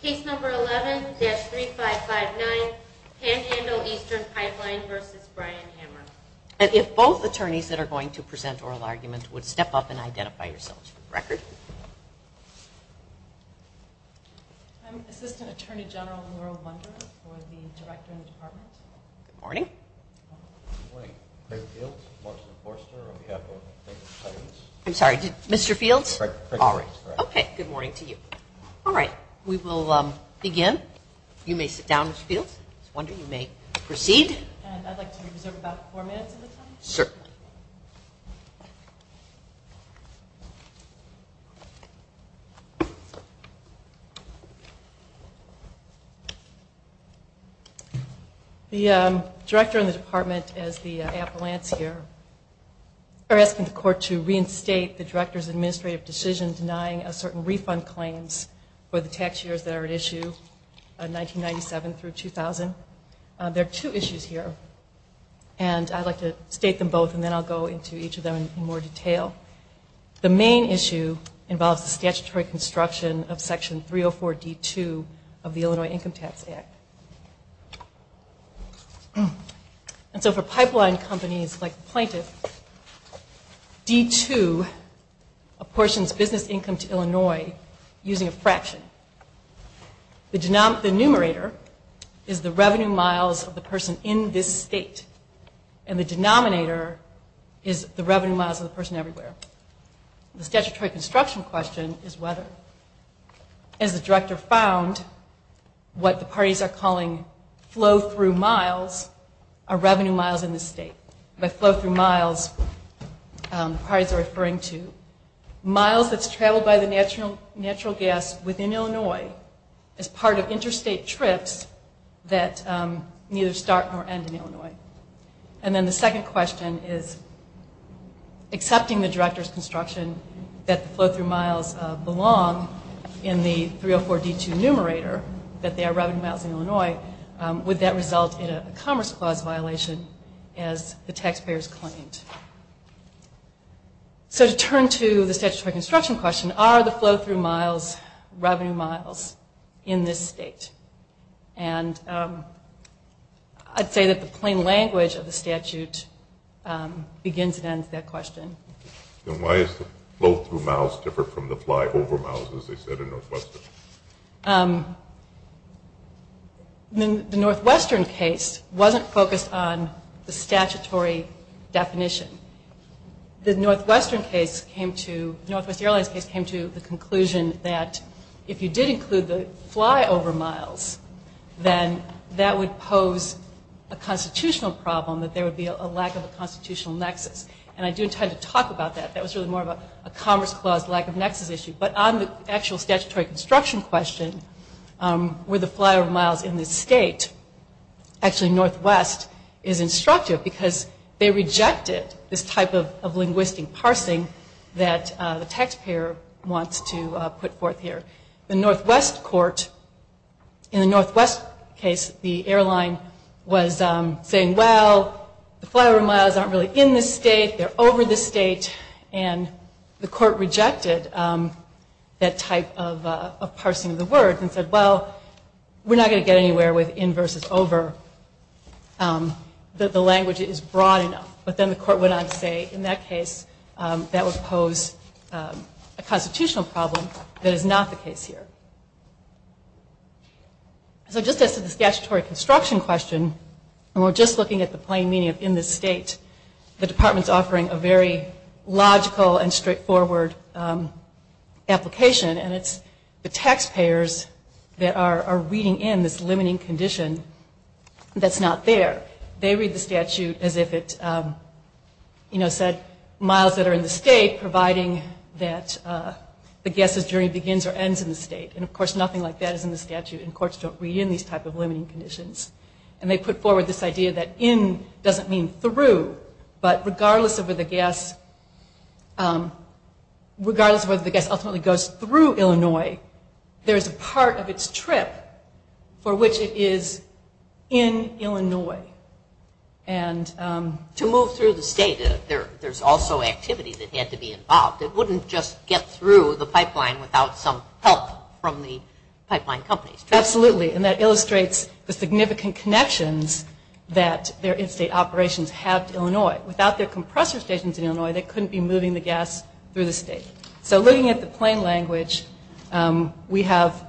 Case number 11-3559 Panhandle Eastern Pipeline v. Brian Hamer. And if both attorneys that are going to present oral argument would step up and identify yourselves for the record. I'm Assistant Attorney General Laurel Bunder for the Director of the Department. Good morning. Good morning. Craig Fields, Marks & Forster on behalf of Craig Fields. I'm sorry, Mr. Fields? Craig Fields, correct. Okay, good morning to you. All right, we will begin. You may sit down, Mr. Fields. I was wondering if you may proceed. And I'd like to reserve about four minutes of the time. Sure. The Director and the Department, as the appellants here, are asking the court to reinstate the Director's administrative decision denying a certain refund claims for the tax years that are at issue, 1997 through 2000. There are two issues here. And I'd like to state them both and then I'll go into each of them in more detail. The main issue involves the statutory construction of Section 304D2 of the Illinois Income Tax Act. And so for pipeline companies like the plaintiffs, D2 apportions business income to Illinois using a fraction. The numerator is the revenue miles of the person in this state, and the denominator is the revenue miles of the person everywhere. The statutory construction question is whether. As the Director found, what the parties are calling flow-through miles are revenue miles in this state. By flow-through miles, the parties are referring to miles that's traveled by the natural gas within Illinois as part of interstate trips that neither start nor end in Illinois. And then the second question is accepting the Director's construction that the flow-through miles belong in the 304D2 numerator, that they are revenue miles in Illinois, would that result in a Commerce Clause violation as the taxpayers claimed? So to turn to the statutory construction question, are the flow-through miles revenue miles in this state? And I'd say that the plain language of the statute begins and ends that question. And why is the flow-through miles different from the fly-over miles, as they said in Northwestern? The Northwestern case wasn't focused on the statutory definition. The Northwest Airlines case came to the conclusion that if you did include the fly-over miles, then that would pose a constitutional problem, that there would be a lack of a constitutional nexus. And I do intend to talk about that. That was really more of a Commerce Clause lack of nexus issue. But on the actual statutory construction question, were the fly-over miles in this state? Actually, Northwest is instructive because they rejected this type of linguistic parsing that the taxpayer wants to put forth here. The Northwest court, in the Northwest case, the airline was saying, well, the fly-over miles aren't really in this state. They're over this state. And the court rejected that type of parsing of the word and said, well, we're not going to get anywhere with in versus over. The language is broad enough. But then the court went on to say, in that case, that would pose a constitutional problem that is not the case here. So just as to the statutory construction question, and we're just looking at the plain meaning of in this state, the Department is offering a very logical and straightforward application, and it's the taxpayers that are reading in this limiting condition that's not there. They read the statute as if it said miles that are in the state, providing that the guest's journey begins or ends in the state. And, of course, nothing like that is in the statute, and courts don't read in these type of limiting conditions. And they put forward this idea that in doesn't mean through, but regardless of whether the guest ultimately goes through Illinois, there's a part of its trip for which it is in Illinois. To move through the state, there's also activity that had to be involved. It wouldn't just get through the pipeline without some help from the pipeline companies. Absolutely, and that illustrates the significant connections that their in-state operations have to Illinois. Without their compressor stations in Illinois, they couldn't be moving the gas through the state. So looking at the plane language, we have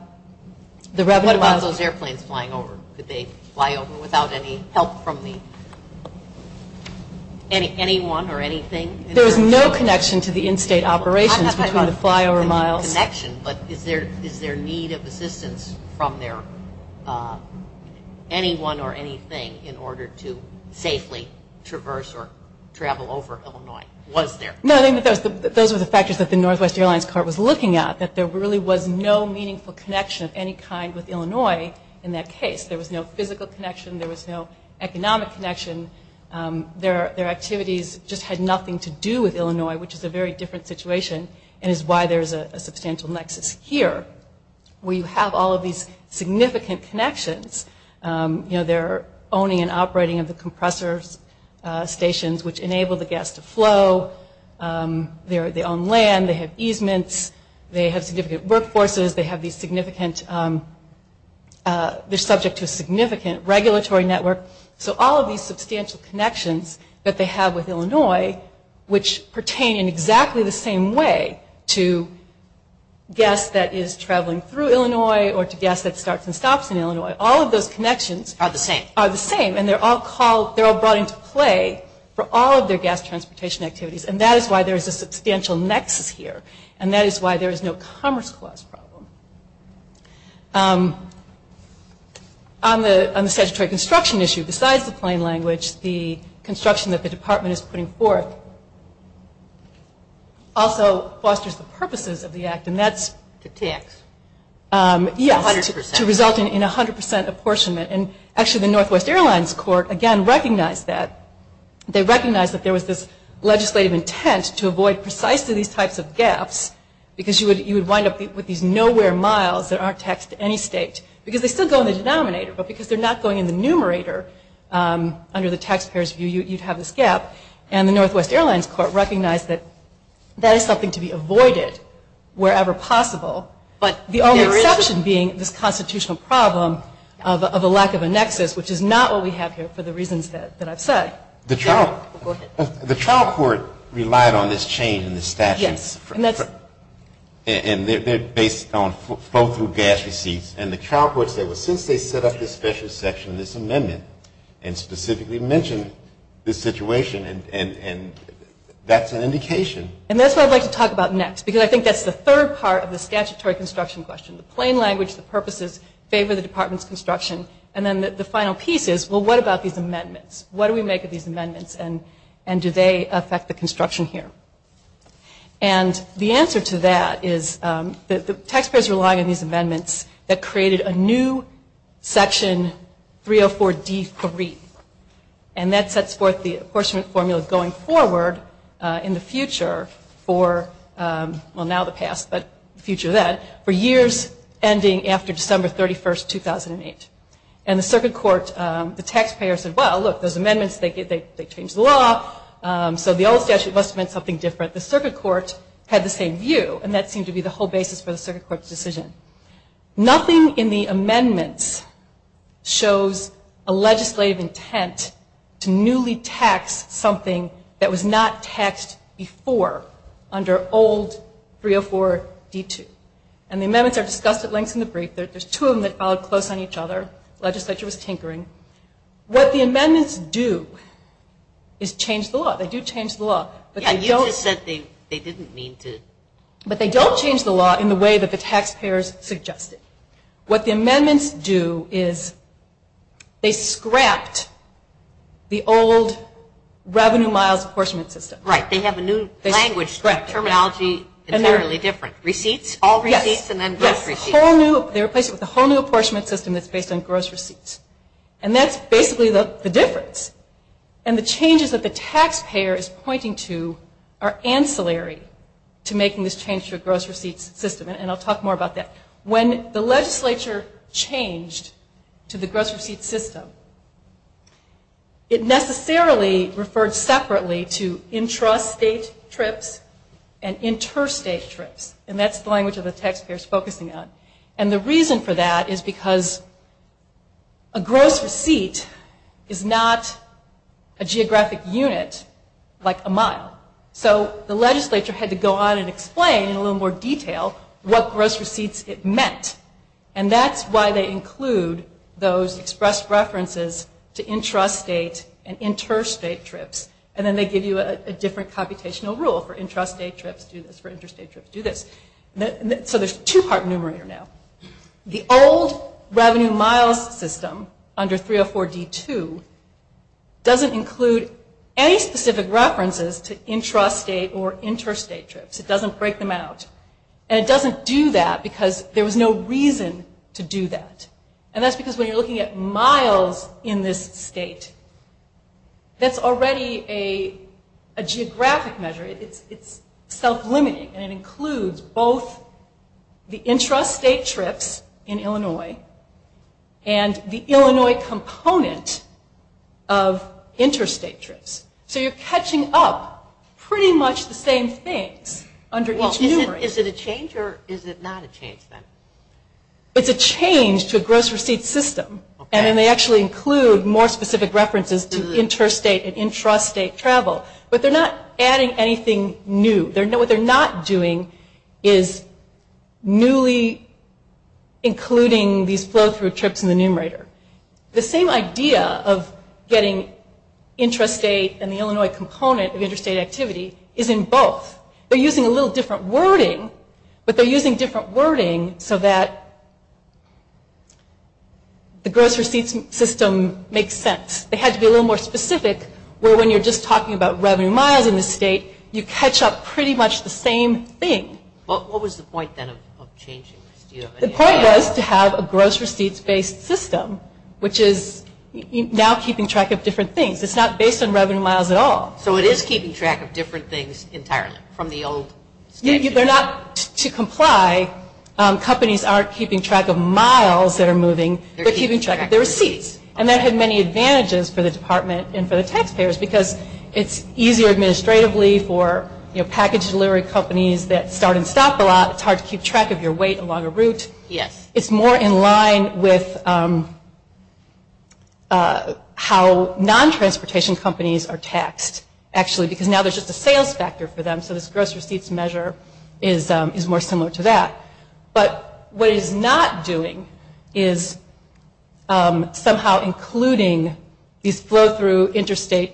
the revenue... What about those airplanes flying over? Could they fly over without any help from anyone or anything? There's no connection to the in-state operations between the flyover miles. There's a connection, but is there need of assistance from anyone or anything in order to safely traverse or travel over Illinois? Was there? No, those were the factors that the Northwest Airlines cart was looking at, that there really was no meaningful connection of any kind with Illinois in that case. There was no physical connection. There was no economic connection. Their activities just had nothing to do with Illinois, which is a very different situation and is why there's a substantial nexus here where you have all of these significant connections. They're owning and operating of the compressor stations, which enable the gas to flow. They own land. They have easements. They have significant workforces. They have these significant... They're subject to a significant regulatory network. So all of these substantial connections that they have with Illinois, which pertain in exactly the same way to gas that is traveling through Illinois or to gas that starts and stops in Illinois, all of those connections... Are the same. ...are the same, and they're all brought into play for all of their gas transportation activities, and that is why there is a substantial nexus here, and that is why there is no commerce clause problem. On the statutory construction issue, besides the plain language, the construction that the department is putting forth also fosters the purposes of the act, and that's... To tax. Yes. 100%. To result in 100% apportionment, and actually the Northwest Airlines Court, again, recognized that. They recognized that there was this legislative intent to avoid precisely these types of gaps because you would wind up with these nowhere miles that aren't taxed to any state because they still go in the denominator, but because they're not going in the numerator under the taxpayer's view, you'd have this gap, and the Northwest Airlines Court recognized that that is something to be avoided wherever possible, but the only exception being this constitutional problem of a lack of a nexus, which is not what we have here for the reasons that I've said. The trial... Go ahead. The trial court relied on this change in the statutes... Yes, and that's... ...and they're based on flow-through gas receipts, and the trial court said, well, since they set up this special section, this amendment, and specifically mentioned this situation, and that's an indication... And that's what I'd like to talk about next, because I think that's the third part of the statutory construction question, the plain language, the purposes, favor the department's construction, and then the final piece is, well, what about these amendments? What do we make of these amendments, and do they affect the construction here? And the answer to that is that the taxpayers relied on these amendments that created a new section 304D3, and that sets forth the apportionment formula going forward in the future for, well, now the past, but the future of that, for years ending after December 31st, 2008. And the circuit court, the taxpayers said, well, look, those amendments, they changed the law, so the old statute must have meant something different. The circuit court had the same view, and that seemed to be the whole basis for the circuit court's decision. Nothing in the amendments shows a legislative intent to newly tax something that was not taxed before under old 304D2. And the amendments are discussed at length in the brief. There's two of them that followed close on each other. The legislature was tinkering. What the amendments do is change the law. They do change the law, but they don't... Yeah, you just said they didn't mean to. But they don't change the law in the way that the taxpayers suggested. What the amendments do is they scrapped the old revenue miles apportionment system. Right. They have a new language, terminology entirely different. Receipts, all receipts, and then gross receipts. Yes. They replaced it with a whole new apportionment system that's based on gross receipts. And that's basically the difference. And the changes that the taxpayer is pointing to are ancillary to making this change to a gross receipt system, and I'll talk more about that. When the legislature changed to the gross receipt system, it necessarily referred separately to intrastate trips and interstate trips, and that's the language that the taxpayer is focusing on. And the reason for that is because a gross receipt is not a geographic unit like a mile. So the legislature had to go on and explain in a little more detail what gross receipts it meant. And that's why they include those expressed references to intrastate and interstate trips. And then they give you a different computational rule for intrastate trips, do this for interstate trips, do this. So there's a two-part numerator now. The old revenue miles system under 304-D2 doesn't include any specific references to intrastate or interstate trips. It doesn't break them out. And it doesn't do that because there was no reason to do that. And that's because when you're looking at miles in this state, that's already a geographic measure. It's self-limiting, and it includes both the intrastate trips in Illinois and the Illinois component of interstate trips. So you're catching up pretty much the same things under each numerator. Well, is it a change or is it not a change then? It's a change to a gross receipt system, and then they actually include more specific references to interstate and intrastate travel. But they're not adding anything new. What they're not doing is newly including these flow-through trips in the numerator. The same idea of getting intrastate and the Illinois component of interstate activity is in both. They're using a little different wording, but they're using different wording so that the gross receipt system makes sense. They had to be a little more specific where when you're just talking about revenue miles in the state, you catch up pretty much the same thing. What was the point then of changing this? The point was to have a gross receipts-based system, which is now keeping track of different things. It's not based on revenue miles at all. So it is keeping track of different things entirely from the old standard? They're not to comply. Companies aren't keeping track of miles that are moving. They're keeping track of their receipts. And that had many advantages for the department and for the taxpayers because it's easier administratively for package delivery companies that start and stop a lot. It's hard to keep track of your weight along a route. Yes. It's more in line with how non-transportation companies are taxed actually because now there's just a sales factor for them. So this gross receipts measure is more similar to that. But what it is not doing is somehow including these flow-through interstate.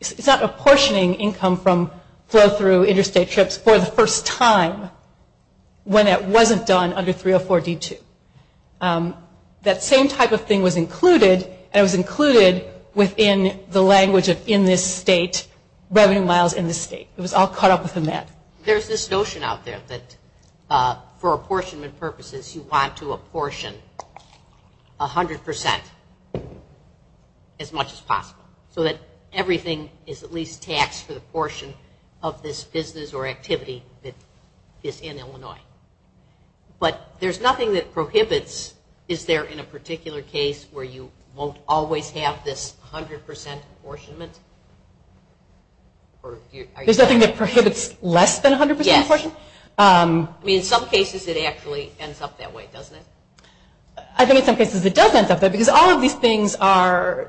It's not apportioning income from flow-through interstate trips for the first time when it wasn't done under 304-D2. That same type of thing was included, and it was included within the language of in this state, revenue miles in this state. It was all caught up within that. There's this notion out there that for apportionment purposes, you want to apportion 100% as much as possible so that everything is at least taxed for the portion of this business or activity that is in Illinois. But there's nothing that prohibits. Is there in a particular case where you won't always have this 100% apportionment? There's nothing that prohibits less than 100% apportionment? Yes. I mean, in some cases it actually ends up that way, doesn't it? I think in some cases it does end up that way because all of these things are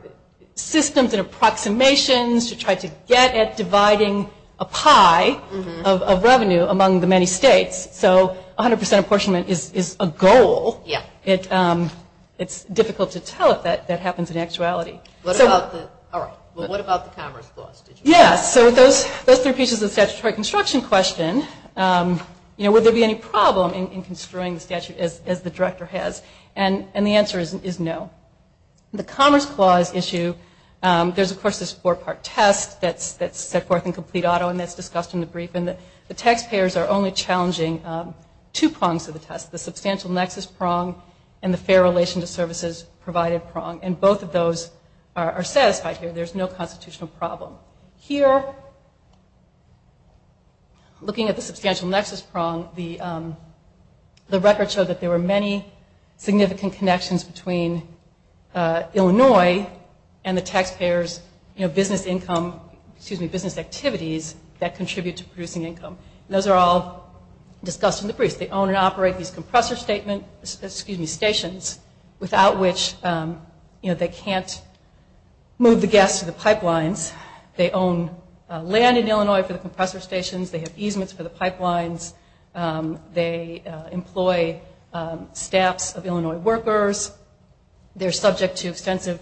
systems and approximations to try to get at dividing a pie of revenue among the many states. So 100% apportionment is a goal. It's difficult to tell if that happens in actuality. All right. Well, what about the Commerce Clause? Yes. So with those three pieces of the statutory construction question, would there be any problem in construing the statute as the director has? And the answer is no. The Commerce Clause issue, there's, of course, this four-part test that's set forth in complete auto and that's discussed in the brief, and the taxpayers are only challenging two prongs of the test, the substantial nexus prong and the fair relation to services provided prong. And both of those are satisfied here. There's no constitutional problem. Here, looking at the substantial nexus prong, the records show that there were many significant connections between Illinois and the taxpayers' business income, excuse me, business activities that contribute to producing income. And those are all discussed in the brief. They own and operate these compressor stations without which they can't move the gas to the pipelines. They own land in Illinois for the compressor stations. They have easements for the pipelines. They employ staffs of Illinois workers. They're subject to extensive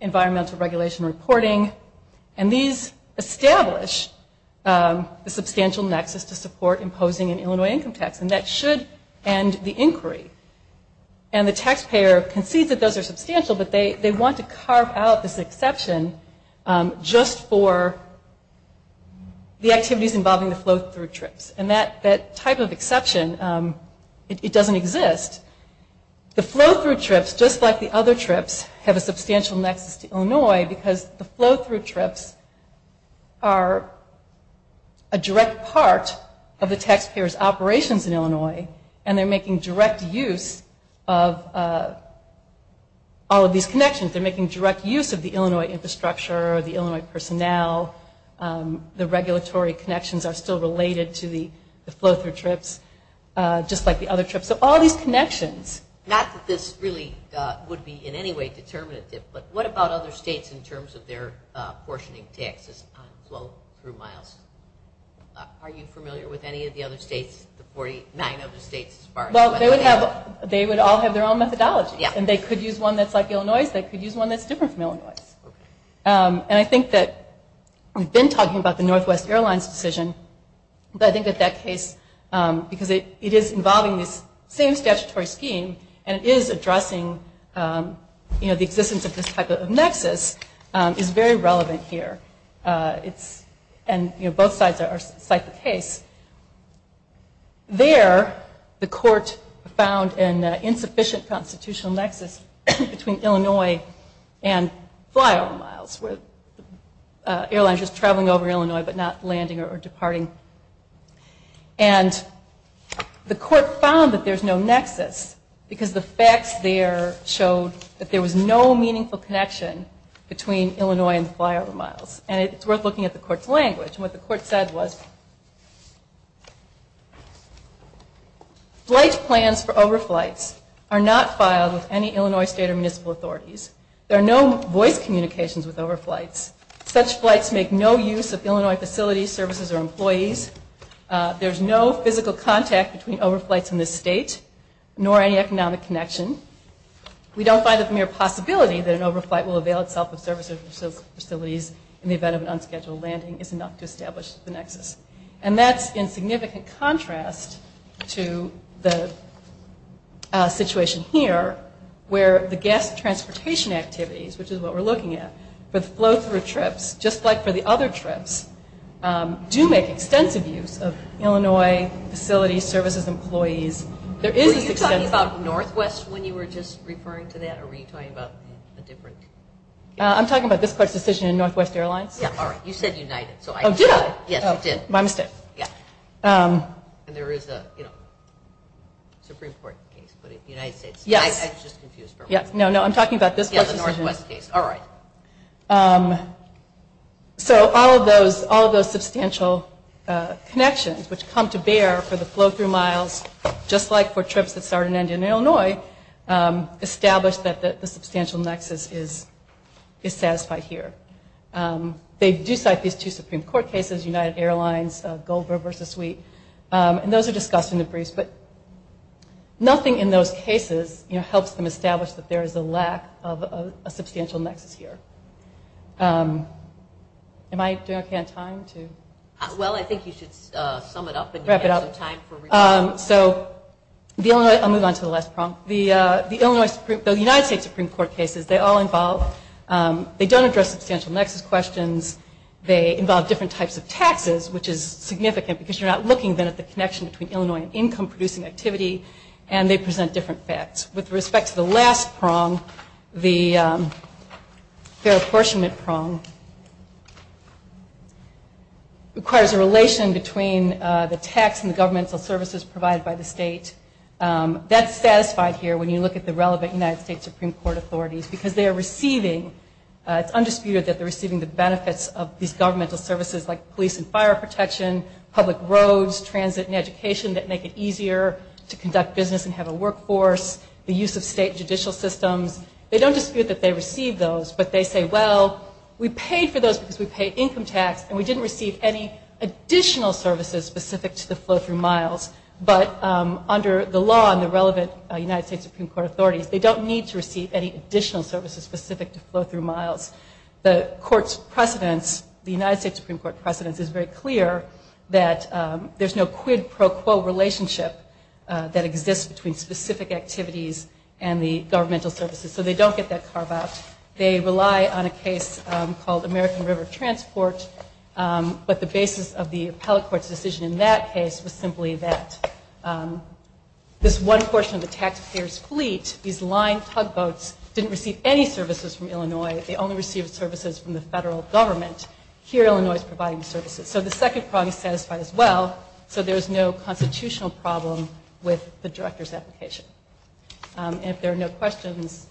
environmental regulation reporting. And these establish the substantial nexus to support imposing an Illinois income tax, and that should end the inquiry. And the taxpayer concedes that those are substantial, but they want to carve out this exception just for the activities involving the flow-through trips. And that type of exception, it doesn't exist. The flow-through trips, just like the other trips, have a substantial nexus to Illinois because the flow-through trips are a direct part of the taxpayers' operations in Illinois, and they're making direct use of all of these connections. They're making direct use of the Illinois infrastructure, the Illinois personnel. The regulatory connections are still related to the flow-through trips, just like the other trips. So all these connections. Not that this really would be in any way determinative, but what about other states in terms of their portioning taxes on flow-through miles? Are you familiar with any of the other states, the 49 other states? Well, they would all have their own methodology, and they could use one that's like Illinois's. They could use one that's different from Illinois's. And I think that we've been talking about the Northwest Airlines decision, but I think that that case, because it is involving this same statutory scheme and it is addressing the existence of this type of nexus, is very relevant here. And both sides cite the case. There, the court found an insufficient constitutional nexus between Illinois and flyover miles, where airlines are just traveling over Illinois but not landing or departing. And the court found that there's no nexus because the facts there showed that there was no meaningful connection between Illinois and flyover miles. And it's worth looking at the court's language. And what the court said was, flight plans for overflights are not filed with any Illinois state or municipal authorities. There are no voice communications with overflights. Such flights make no use of Illinois facilities, services, or employees. There's no physical contact between overflights in this state, nor any economic connection. We don't find it a mere possibility that an overflight will avail itself of services or facilities in the event of an unscheduled landing is enough to establish the nexus. And that's in significant contrast to the situation here, where the gas transportation activities, which is what we're looking at, for the flow-through trips, just like for the other trips, do make extensive use of Illinois facilities, services, employees. Were you talking about Northwest when you were just referring to that, or were you talking about a different? I'm talking about this court's decision in Northwest Airlines. Yeah, all right. You said United. Oh, did I? Yes, you did. My mistake. And there is a Supreme Court case, but in the United States. Yes. I'm just confused for a moment. No, no, I'm talking about this court's decision. Yeah, the Northwest case. All right. So all of those substantial connections, which come to bear for the flow-through miles, just like for trips that start and end in Illinois, establish that the substantial nexus is satisfied here. They do cite these two Supreme Court cases, United Airlines, Gold River Suite, and those are discussed in the briefs, but nothing in those cases helps them establish that there is a lack of a substantial nexus here. Am I doing okay on time? Well, I think you should sum it up. Wrap it up. So I'll move on to the last prong. The United States Supreme Court cases, they all involve, they don't address substantial nexus questions. They involve different types of taxes, which is significant, because you're not looking then at the connection between Illinois and income-producing activity, and they present different facts. With respect to the last prong, the fair apportionment prong requires a relation between the tax and the governmental services provided by the state. That's satisfied here when you look at the relevant United States Supreme Court authorities, because they are receiving, it's undisputed that they're receiving the benefits of these governmental services like police and fire protection, public roads, transit and education that make it easier to conduct business and have a better life, the use of state judicial systems. They don't dispute that they receive those, but they say, well, we paid for those because we paid income tax, and we didn't receive any additional services specific to the flow-through miles, but under the law and the relevant United States Supreme Court authorities, they don't need to receive any additional services specific to flow-through miles. The court's precedents, the United States Supreme Court precedents, is very clear that there's no quid pro quo relationship that exists between the specific activities and the governmental services, so they don't get that carve out. They rely on a case called American River Transport, but the basis of the appellate court's decision in that case was simply that this one portion of the taxpayer's fleet, these line tugboats, didn't receive any services from Illinois. They only received services from the federal government. Here, Illinois is providing services. So the second prong is satisfied as well, so there's no constitutional problem with the director's application. If there are no questions.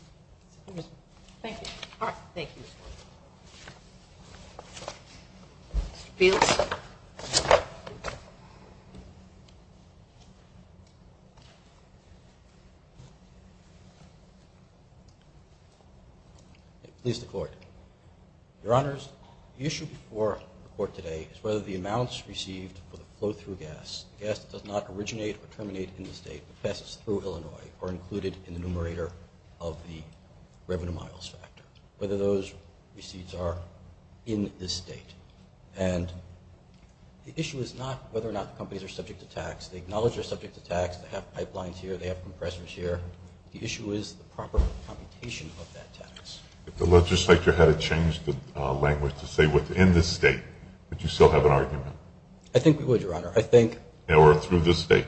Thank you. All right. Thank you. Mr. Fields. Please declare. Your Honors, the issue before the court today is whether the amounts received for the flow-through gas, the gas that does not originate or terminate in the state, but passes through Illinois, are included in the numerator of the revenue miles factor, whether those receipts are in this state. And the issue is not whether or not the companies are subject to tax. They acknowledge they're subject to tax. They have pipelines here. They have compressors here. The issue is the proper computation of that tax. If the legislature had to change the language to say within this state, would you still have an argument? I think we would, Your Honor. I think. Or through this state?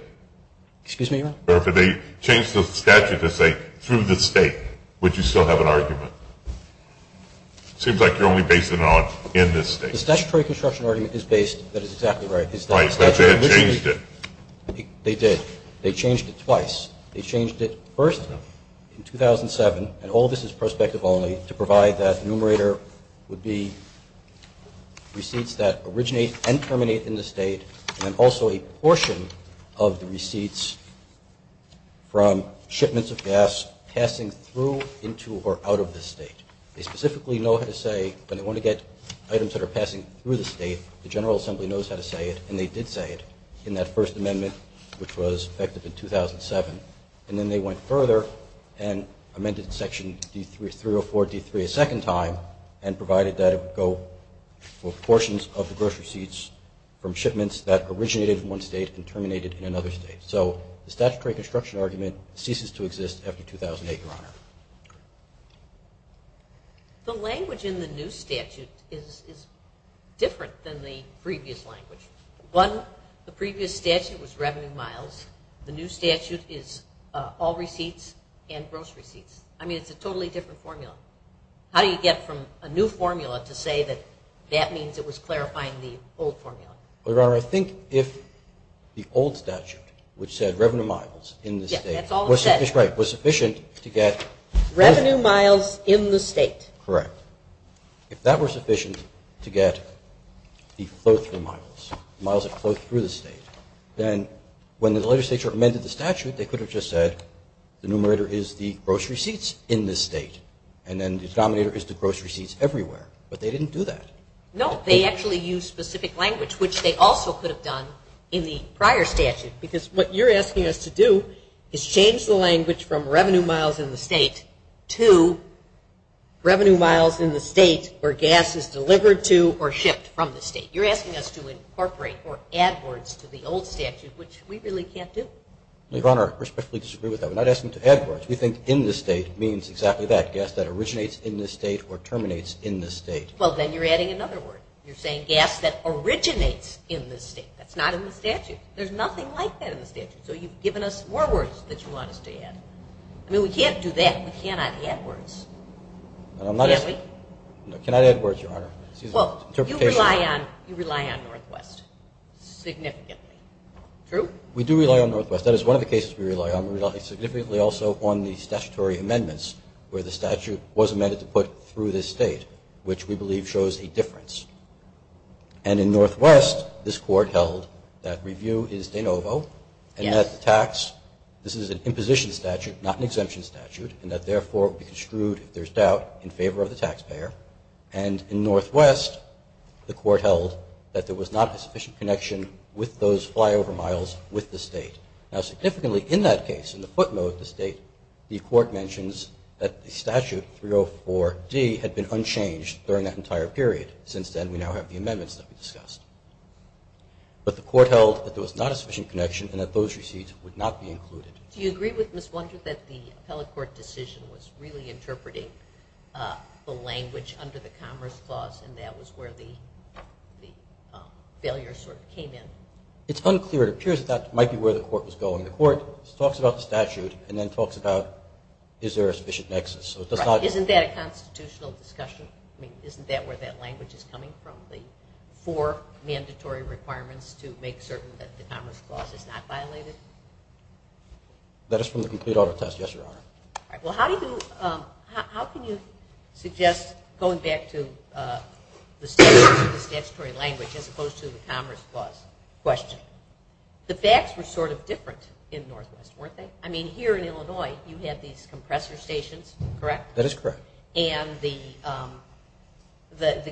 Excuse me, Your Honor? Or if they changed the statute to say through this state, would you still have an argument? Seems like you're only basing it on in this state. The statutory construction argument is based, that is exactly right. Right, but they had changed it. They did. They changed it twice. They changed it first in 2007, and all of this is prospective only to provide that the numerator would be receipts that originate and terminate in the state and also a portion of the receipts from shipments of gas passing through, into, or out of this state. They specifically know how to say, when they want to get items that are passing through the state, the General Assembly knows how to say it, and they did say it in that first amendment, which was effective in 2007. And then they went further and amended Section 304D3 a second time and provided that it would go for portions of the gross receipts from shipments that originated in one state and terminated in another state. So the statutory construction argument ceases to exist after 2008, Your Honor. The language in the new statute is different than the previous language. One, the previous statute was revenue miles. The new statute is all receipts and gross receipts. I mean, it's a totally different formula. How do you get from a new formula to say that that means it was clarifying the old formula? Your Honor, I think if the old statute, which said revenue miles in the state, was sufficient to get- Revenue miles in the state. Correct. If that were sufficient to get the flow through miles, miles that flow through the state, then when the legislature amended the statute, they could have just said the numerator is the gross receipts in the state and then the denominator is the gross receipts everywhere. But they didn't do that. No, they actually used specific language, which they also could have done in the prior statute. Because what you're asking us to do is change the language from revenue miles in the state to revenue miles in the state where gas is delivered to or shipped from the state. You're asking us to incorporate or add words to the old statute, which we really can't do. Your Honor, I respectfully disagree with that. We're not asking to add words. We think in the state means exactly that, gas that originates in the state or terminates in the state. Well, then you're adding another word. You're saying gas that originates in the state. That's not in the statute. There's nothing like that in the statute. So you've given us more words that you want us to add. I mean, we can't do that. We cannot add words. Can we? No, we cannot add words, Your Honor. Well, you rely on Northwest significantly. True? We do rely on Northwest. That is one of the cases we rely on. We rely significantly also on the statutory amendments where the statute was amended to put through the state, which we believe shows a difference. And in Northwest, this Court held that review is de novo and that the tax, this is an imposition statute, not an exemption statute, and that, therefore, it would be construed, if there's doubt, in favor of the taxpayer. And in Northwest, the Court held that there was not a sufficient connection with those flyover miles with the state. Now, significantly, in that case, in the footnote of the state, the Court mentions that the statute, 304D, had been unchanged during that entire period. Since then, we now have the amendments that we discussed. But the Court held that there was not a sufficient connection and that those receipts would not be included. Do you agree with Ms. Blunder that the appellate court decision was really interpreting the language under the Commerce Clause and that was where the failure sort of came in? It's unclear. It appears that that might be where the Court was going. The Court talks about the statute and then talks about is there a sufficient nexus. Right. Isn't that a constitutional discussion? I mean, isn't that where that language is coming from, the four mandatory requirements to make certain that the Commerce Clause is not violated? That is from the complete auto test, yes, Your Honor. All right. Well, how can you suggest, going back to the statutes and the statutory language as opposed to the Commerce Clause question, the facts were sort of different in Northwest, weren't they? I mean, here in Illinois, you had these compressor stations, correct? That is correct. And the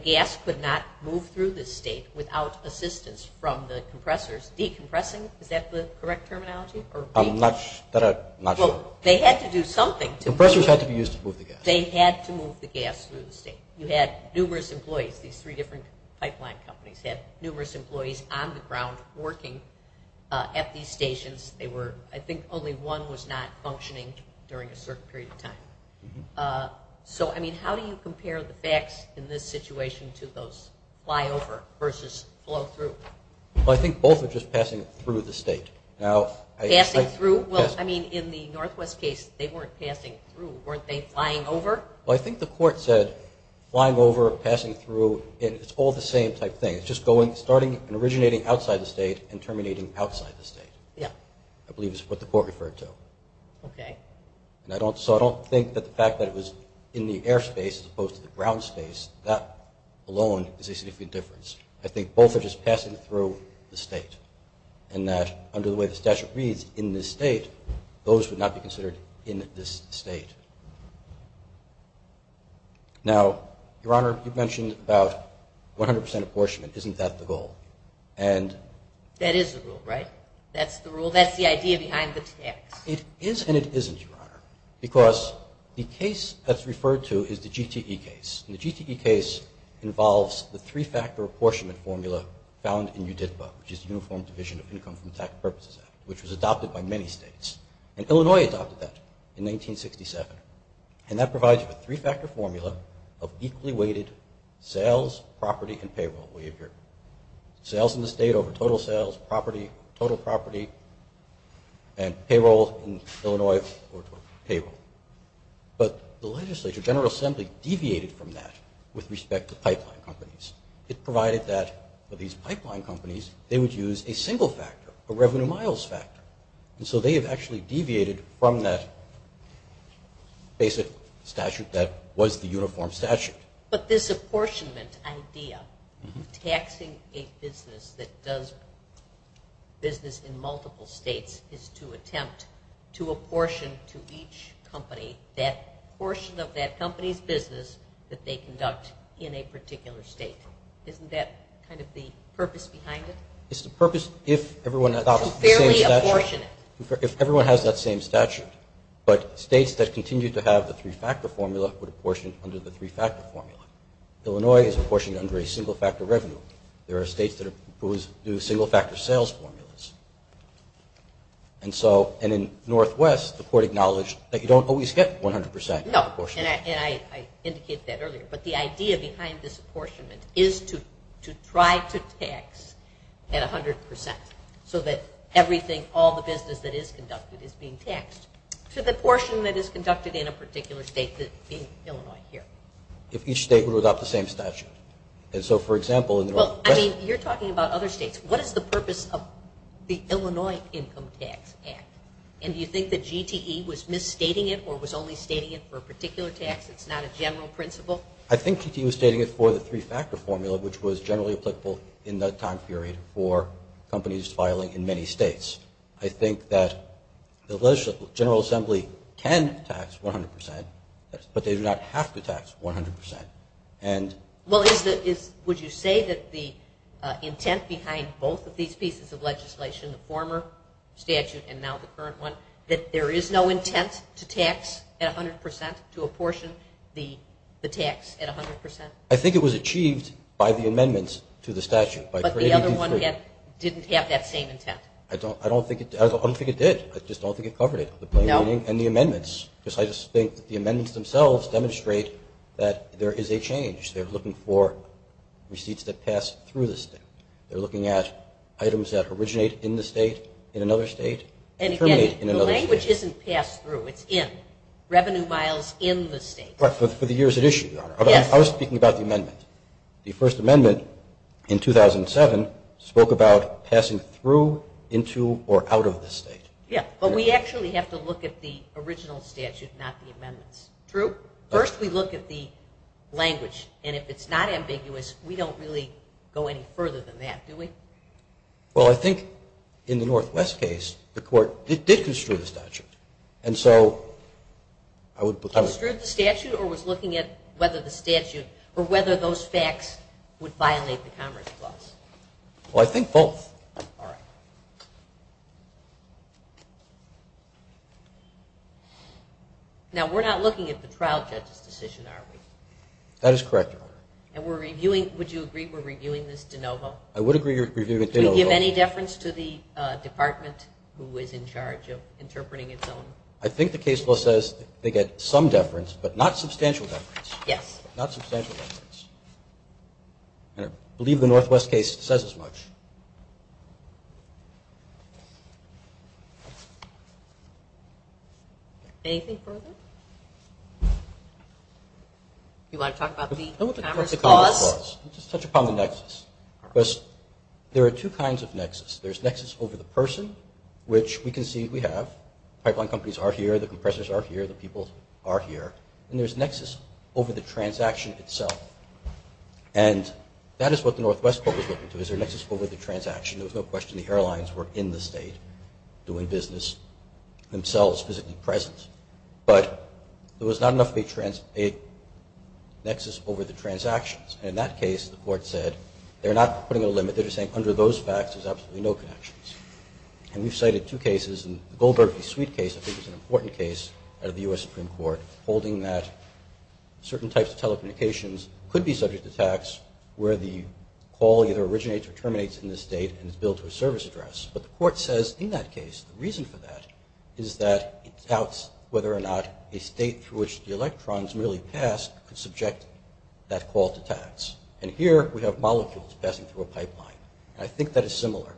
gas could not move through this state without assistance from the compressors decompressing? Is that the correct terminology? I'm not sure. Well, they had to do something. Compressors had to be used to move the gas. They had to move the gas through the state. You had numerous employees, these three different pipeline companies, had numerous employees on the ground working at these stations. I think only one was not functioning during a certain period of time. So, I mean, how do you compare the facts in this situation to those flyover versus flow through? Well, I think both are just passing through the state. Passing through? Well, I mean, in the Northwest case, they weren't passing through. Weren't they flying over? Well, I think the court said flying over, passing through, and it's all the same type thing. It's just starting and originating outside the state and terminating outside the state, I believe is what the court referred to. Okay. So I don't think that the fact that it was in the airspace as opposed to the ground space, that alone is a significant difference. I think both are just passing through the state and that under the way the statute reads, in this state, those would not be considered in this state. Now, Your Honor, you've mentioned about 100% apportionment. Isn't that the goal? That is the rule, right? That's the rule. That's the idea behind the tax. It is and it isn't, Your Honor, because the case that's referred to is the GTE case. And the GTE case involves the three-factor apportionment formula found in UDIPA, which is the Uniform Division of Income from the Tax Purposes Act, which was adopted by many states. And Illinois adopted that in 1967. And that provides a three-factor formula of equally weighted sales, property, and payroll behavior. Sales in the state over total sales, property, total property, and payroll in Illinois, or payroll. But the legislature, General Assembly, deviated from that with respect to pipeline companies. It provided that for these pipeline companies, they would use a single factor, a revenue miles factor. And so they have actually deviated from that basic statute that was the uniform statute. But this apportionment idea of taxing a business that does business in multiple states is to attempt to apportion to each company that portion of that company's business that they conduct in a particular state. Isn't that kind of the purpose behind it? It's the purpose if everyone adopts the same statute. To fairly apportion it. If everyone has that same statute. But states that continue to have the three-factor formula would apportion under the three-factor formula. Illinois is apportioned under a single factor revenue. There are states that do single factor sales formulas. And in Northwest, the court acknowledged that you don't always get 100% apportionment. No, and I indicated that earlier. But the idea behind this apportionment is to try to tax at 100% so that everything, all the business that is conducted is being taxed to the portion that is conducted in a particular state, being Illinois here. If each state would adopt the same statute. You're talking about other states. What is the purpose of the Illinois Income Tax Act? And do you think that GTE was misstating it or was only stating it for a particular tax? It's not a general principle? I think GTE was stating it for the three-factor formula, which was generally applicable in that time period for companies filing in many states. I think that the general assembly can tax 100%, but they do not have to tax 100%. Would you say that the intent behind both of these pieces of legislation, the former statute and now the current one, that there is no intent to tax at 100%, to apportion the tax at 100%? I think it was achieved by the amendments to the statute. But the other one didn't have that same intent? I don't think it did. I just don't think it covered it, the plain reading and the amendments. I just think that the amendments themselves demonstrate that there is a change. They're looking for receipts that pass through the state. They're looking at items that originate in the state, in another state, and terminate in another state. And, again, the language isn't pass-through. It's in. Revenue miles in the state. But for the years at issue, Your Honor. Yes. I was speaking about the amendment. The First Amendment in 2007 spoke about passing through, into, or out of the state. Yes. But we actually have to look at the original statute, not the amendments. True? First, we look at the language. And if it's not ambiguous, we don't really go any further than that, do we? Well, I think in the Northwest case, the court did construe the statute. And so I would put that. Construed the statute or was looking at whether the statute or whether those facts would violate the Commerce Clause? Well, I think both. Both? All right. Now, we're not looking at the trial judge's decision, are we? That is correct, Your Honor. And would you agree we're reviewing this de novo? I would agree we're reviewing it de novo. Do we give any deference to the department who is in charge of interpreting its own? I think the case law says they get some deference, but not substantial deference. Yes. Not substantial deference. And I believe the Northwest case says as much. Anything further? Do you want to talk about the Commerce Clause? Let's just touch upon the nexus. There are two kinds of nexus. There's nexus over the person, which we can see we have. Pipeline companies are here. The compressors are here. The people are here. And there's nexus over the transaction itself. And that is what the Northwest Court was looking to. Is there a nexus over the transaction? There was no question the airlines were in the state doing business, themselves physically present. But there was not enough of a nexus over the transactions. And in that case, the Court said they're not putting a limit. They're just saying under those facts, there's absolutely no connections. And we've cited two cases. Sweet case I think is an important case out of the U.S. Supreme Court holding that certain types of telecommunications could be subject to tax where the call either originates or terminates in the state and is billed to a service address. But the Court says in that case the reason for that is that it doubts whether or not a state through which the electrons merely pass could subject that call to tax. And here we have molecules passing through a pipeline. I think that is similar.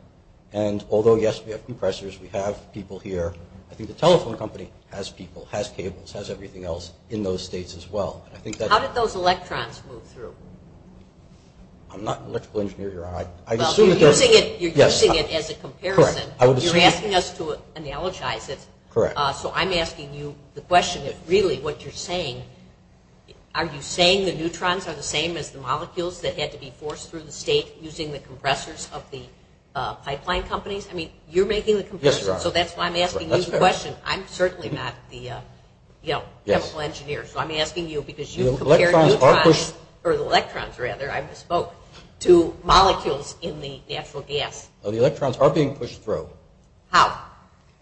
And although, yes, we have compressors, we have people here, I think the telephone company has people, has cables, has everything else in those states as well. How did those electrons move through? I'm not an electrical engineer, Your Honor. You're using it as a comparison. You're asking us to analogize it. Correct. So I'm asking you the question of really what you're saying. Are you saying the neutrons are the same as the molecules that had to be forced through the state using the compressors of the pipeline companies? I mean, you're making the comparison. Yes, Your Honor. So that's why I'm asking you the question. I'm certainly not the, you know, chemical engineer. So I'm asking you because you've compared neutrons or electrons, rather, I misspoke, to molecules in the natural gas. The electrons are being pushed through. How?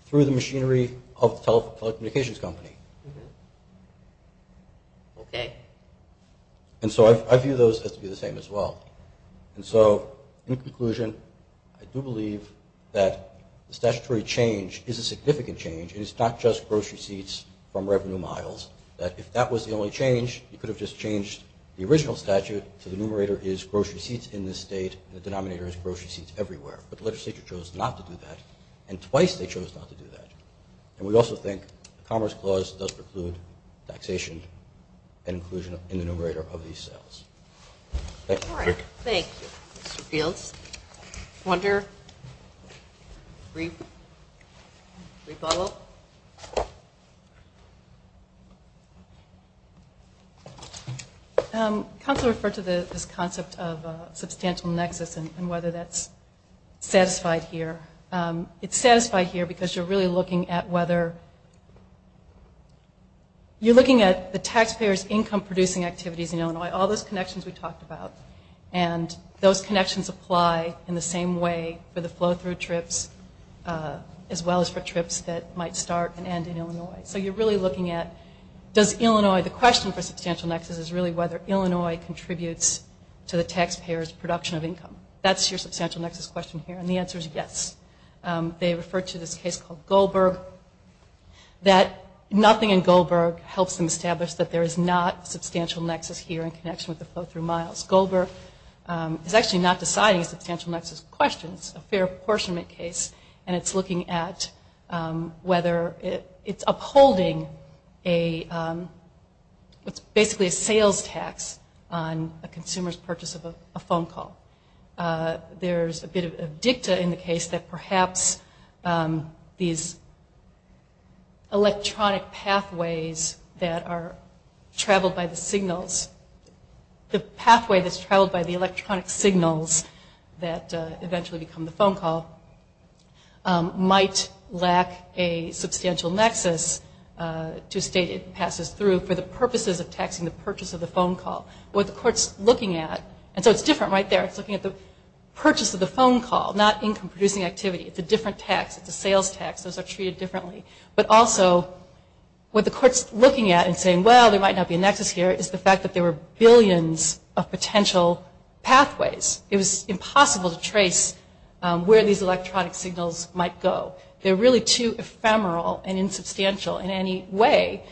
Through the machinery of the telecommunications company. Okay. And so I view those as to be the same as well. And so, in conclusion, I do believe that the statutory change is a significant change, and it's not just grocery seats from revenue miles, that if that was the only change, you could have just changed the original statute so the numerator is grocery seats in this state and the denominator is grocery seats everywhere. But the legislature chose not to do that, and twice they chose not to do that. And we also think the Commerce Clause does preclude taxation and inclusion in the numerator of these sales. Thank you. Thank you. Mr. Fields? Wunder? Brief follow-up? Counselor referred to this concept of substantial nexus and whether that's satisfied here. It's satisfied here because you're really looking at whether you're looking at the taxpayers' income-producing activities in Illinois, all those connections we talked about, and those connections apply in the same way for the flow-through trips as well as for trips that might start and end in Illinois. So you're really looking at does Illinois, the question for substantial nexus is really whether Illinois contributes to the taxpayers' production of income. That's your substantial nexus question here, and the answer is yes. They refer to this case called Goldberg, that nothing in Goldberg helps them establish that there is not substantial nexus here in connection with the flow-through miles. Goldberg is actually not deciding substantial nexus questions, a fair apportionment case, and it's looking at whether it's upholding basically a sales tax on a consumer's purchase of a phone call. There's a bit of dicta in the case that perhaps these electronic pathways that are traveled by the signals, the pathway that's traveled by the electronic signals that eventually become the phone call might lack a substantial nexus to state it passes through for the purposes of taxing the purchase of the phone call. What the court's looking at, and so it's different right there, it's looking at the purchase of the phone call, not income-producing activity. It's a different tax. It's a sales tax. Those are treated differently. But also what the court's looking at and saying, well, there might not be a nexus here, is the fact that there were billions of potential pathways. It was impossible to trace where these electronic signals might go. They're really too ephemeral and insubstantial in any way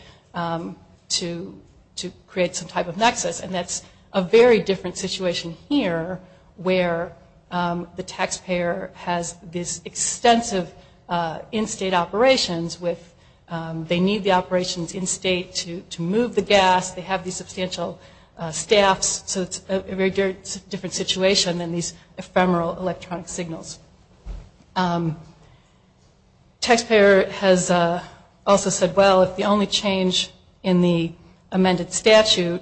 to create some type of nexus, and that's a very different situation here where the taxpayer has this they need the operations in state to move the gas. They have these substantial staffs, so it's a very different situation than these ephemeral electronic signals. Taxpayer has also said, well, if the only change in the amended statute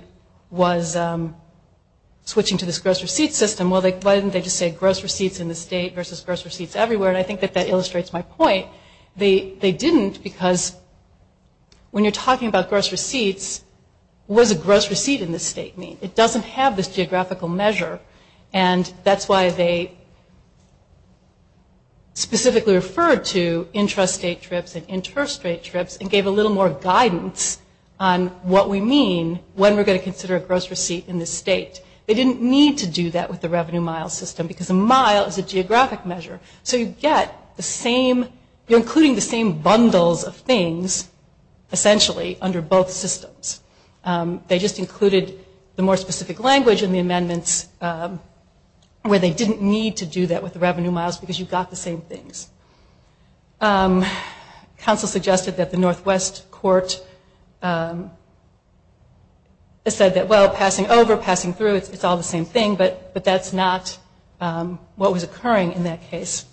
was switching to this gross receipt system, well, why didn't they just say gross receipts in the state versus gross receipts everywhere, and I think that that illustrates my point. They didn't because when you're talking about gross receipts, what does a gross receipt in the state mean? It doesn't have this geographical measure, and that's why they specifically referred to intrastate trips and interstate trips and gave a little more guidance on what we mean when we're going to consider a gross receipt in the state. They didn't need to do that with the revenue mile system because a mile is a geographic measure. So you get the same, you're including the same bundles of things essentially under both systems. They just included the more specific language in the amendments where they didn't need to do that with the revenue miles because you got the same things. Counsel suggested that the Northwest Court said that, well, passing over, passing through, it's all the same thing, but that's not what was occurring in that case.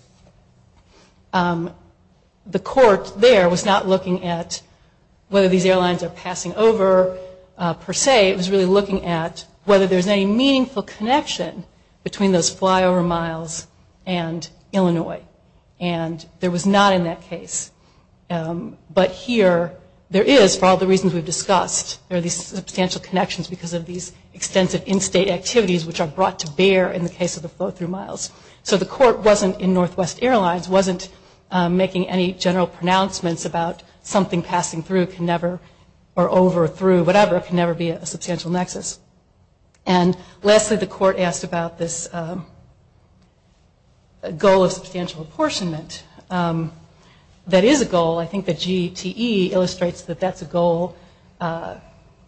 The court there was not looking at whether these airlines are passing over per se. It was really looking at whether there's any meaningful connection between those flyover miles and Illinois, and there was not in that case. But here there is for all the reasons we've discussed. There are these substantial connections because of these extensive in-state activities which are brought to bear in the case of the flow-through miles. So the court wasn't in Northwest Airlines, wasn't making any general pronouncements about something passing through can never, or over or through, whatever, can never be a substantial nexus. And lastly, the court asked about this goal of substantial apportionment. That is a goal. I think the GTE illustrates that that's a goal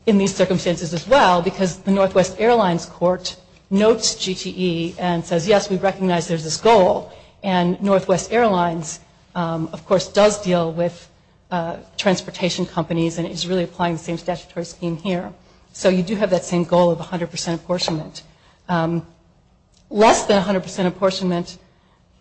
in these circumstances as well because the Northwest Airlines court notes GTE and says, yes, we recognize there's this goal. And Northwest Airlines, of course, does deal with transportation companies and is really applying the same statutory scheme here. So you do have that same goal of 100% apportionment. Less than 100% apportionment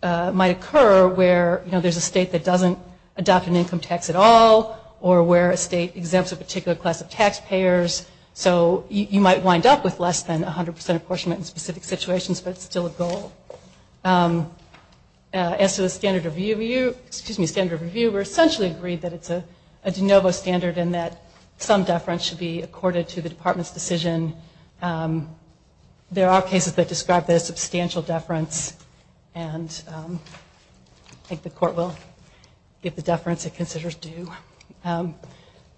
might occur where, you know, there's a state that doesn't adopt an income tax at all or where a state exempts a particular class of taxpayers. So you might wind up with less than 100% apportionment in specific situations, but it's still a goal. As to the standard review, we're essentially agreed that it's a de novo standard and that some deference should be accorded to the department's decision. There are cases that describe this substantial deference, and I think the court will give the deference it considers due.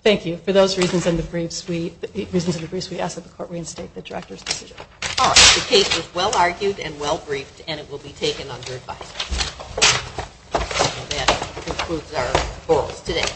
Thank you. For those reasons and the briefs, we ask that the court reinstate the director's decision. All right. The case was well argued and well briefed, and it will be taken under advice. And that concludes our forums today.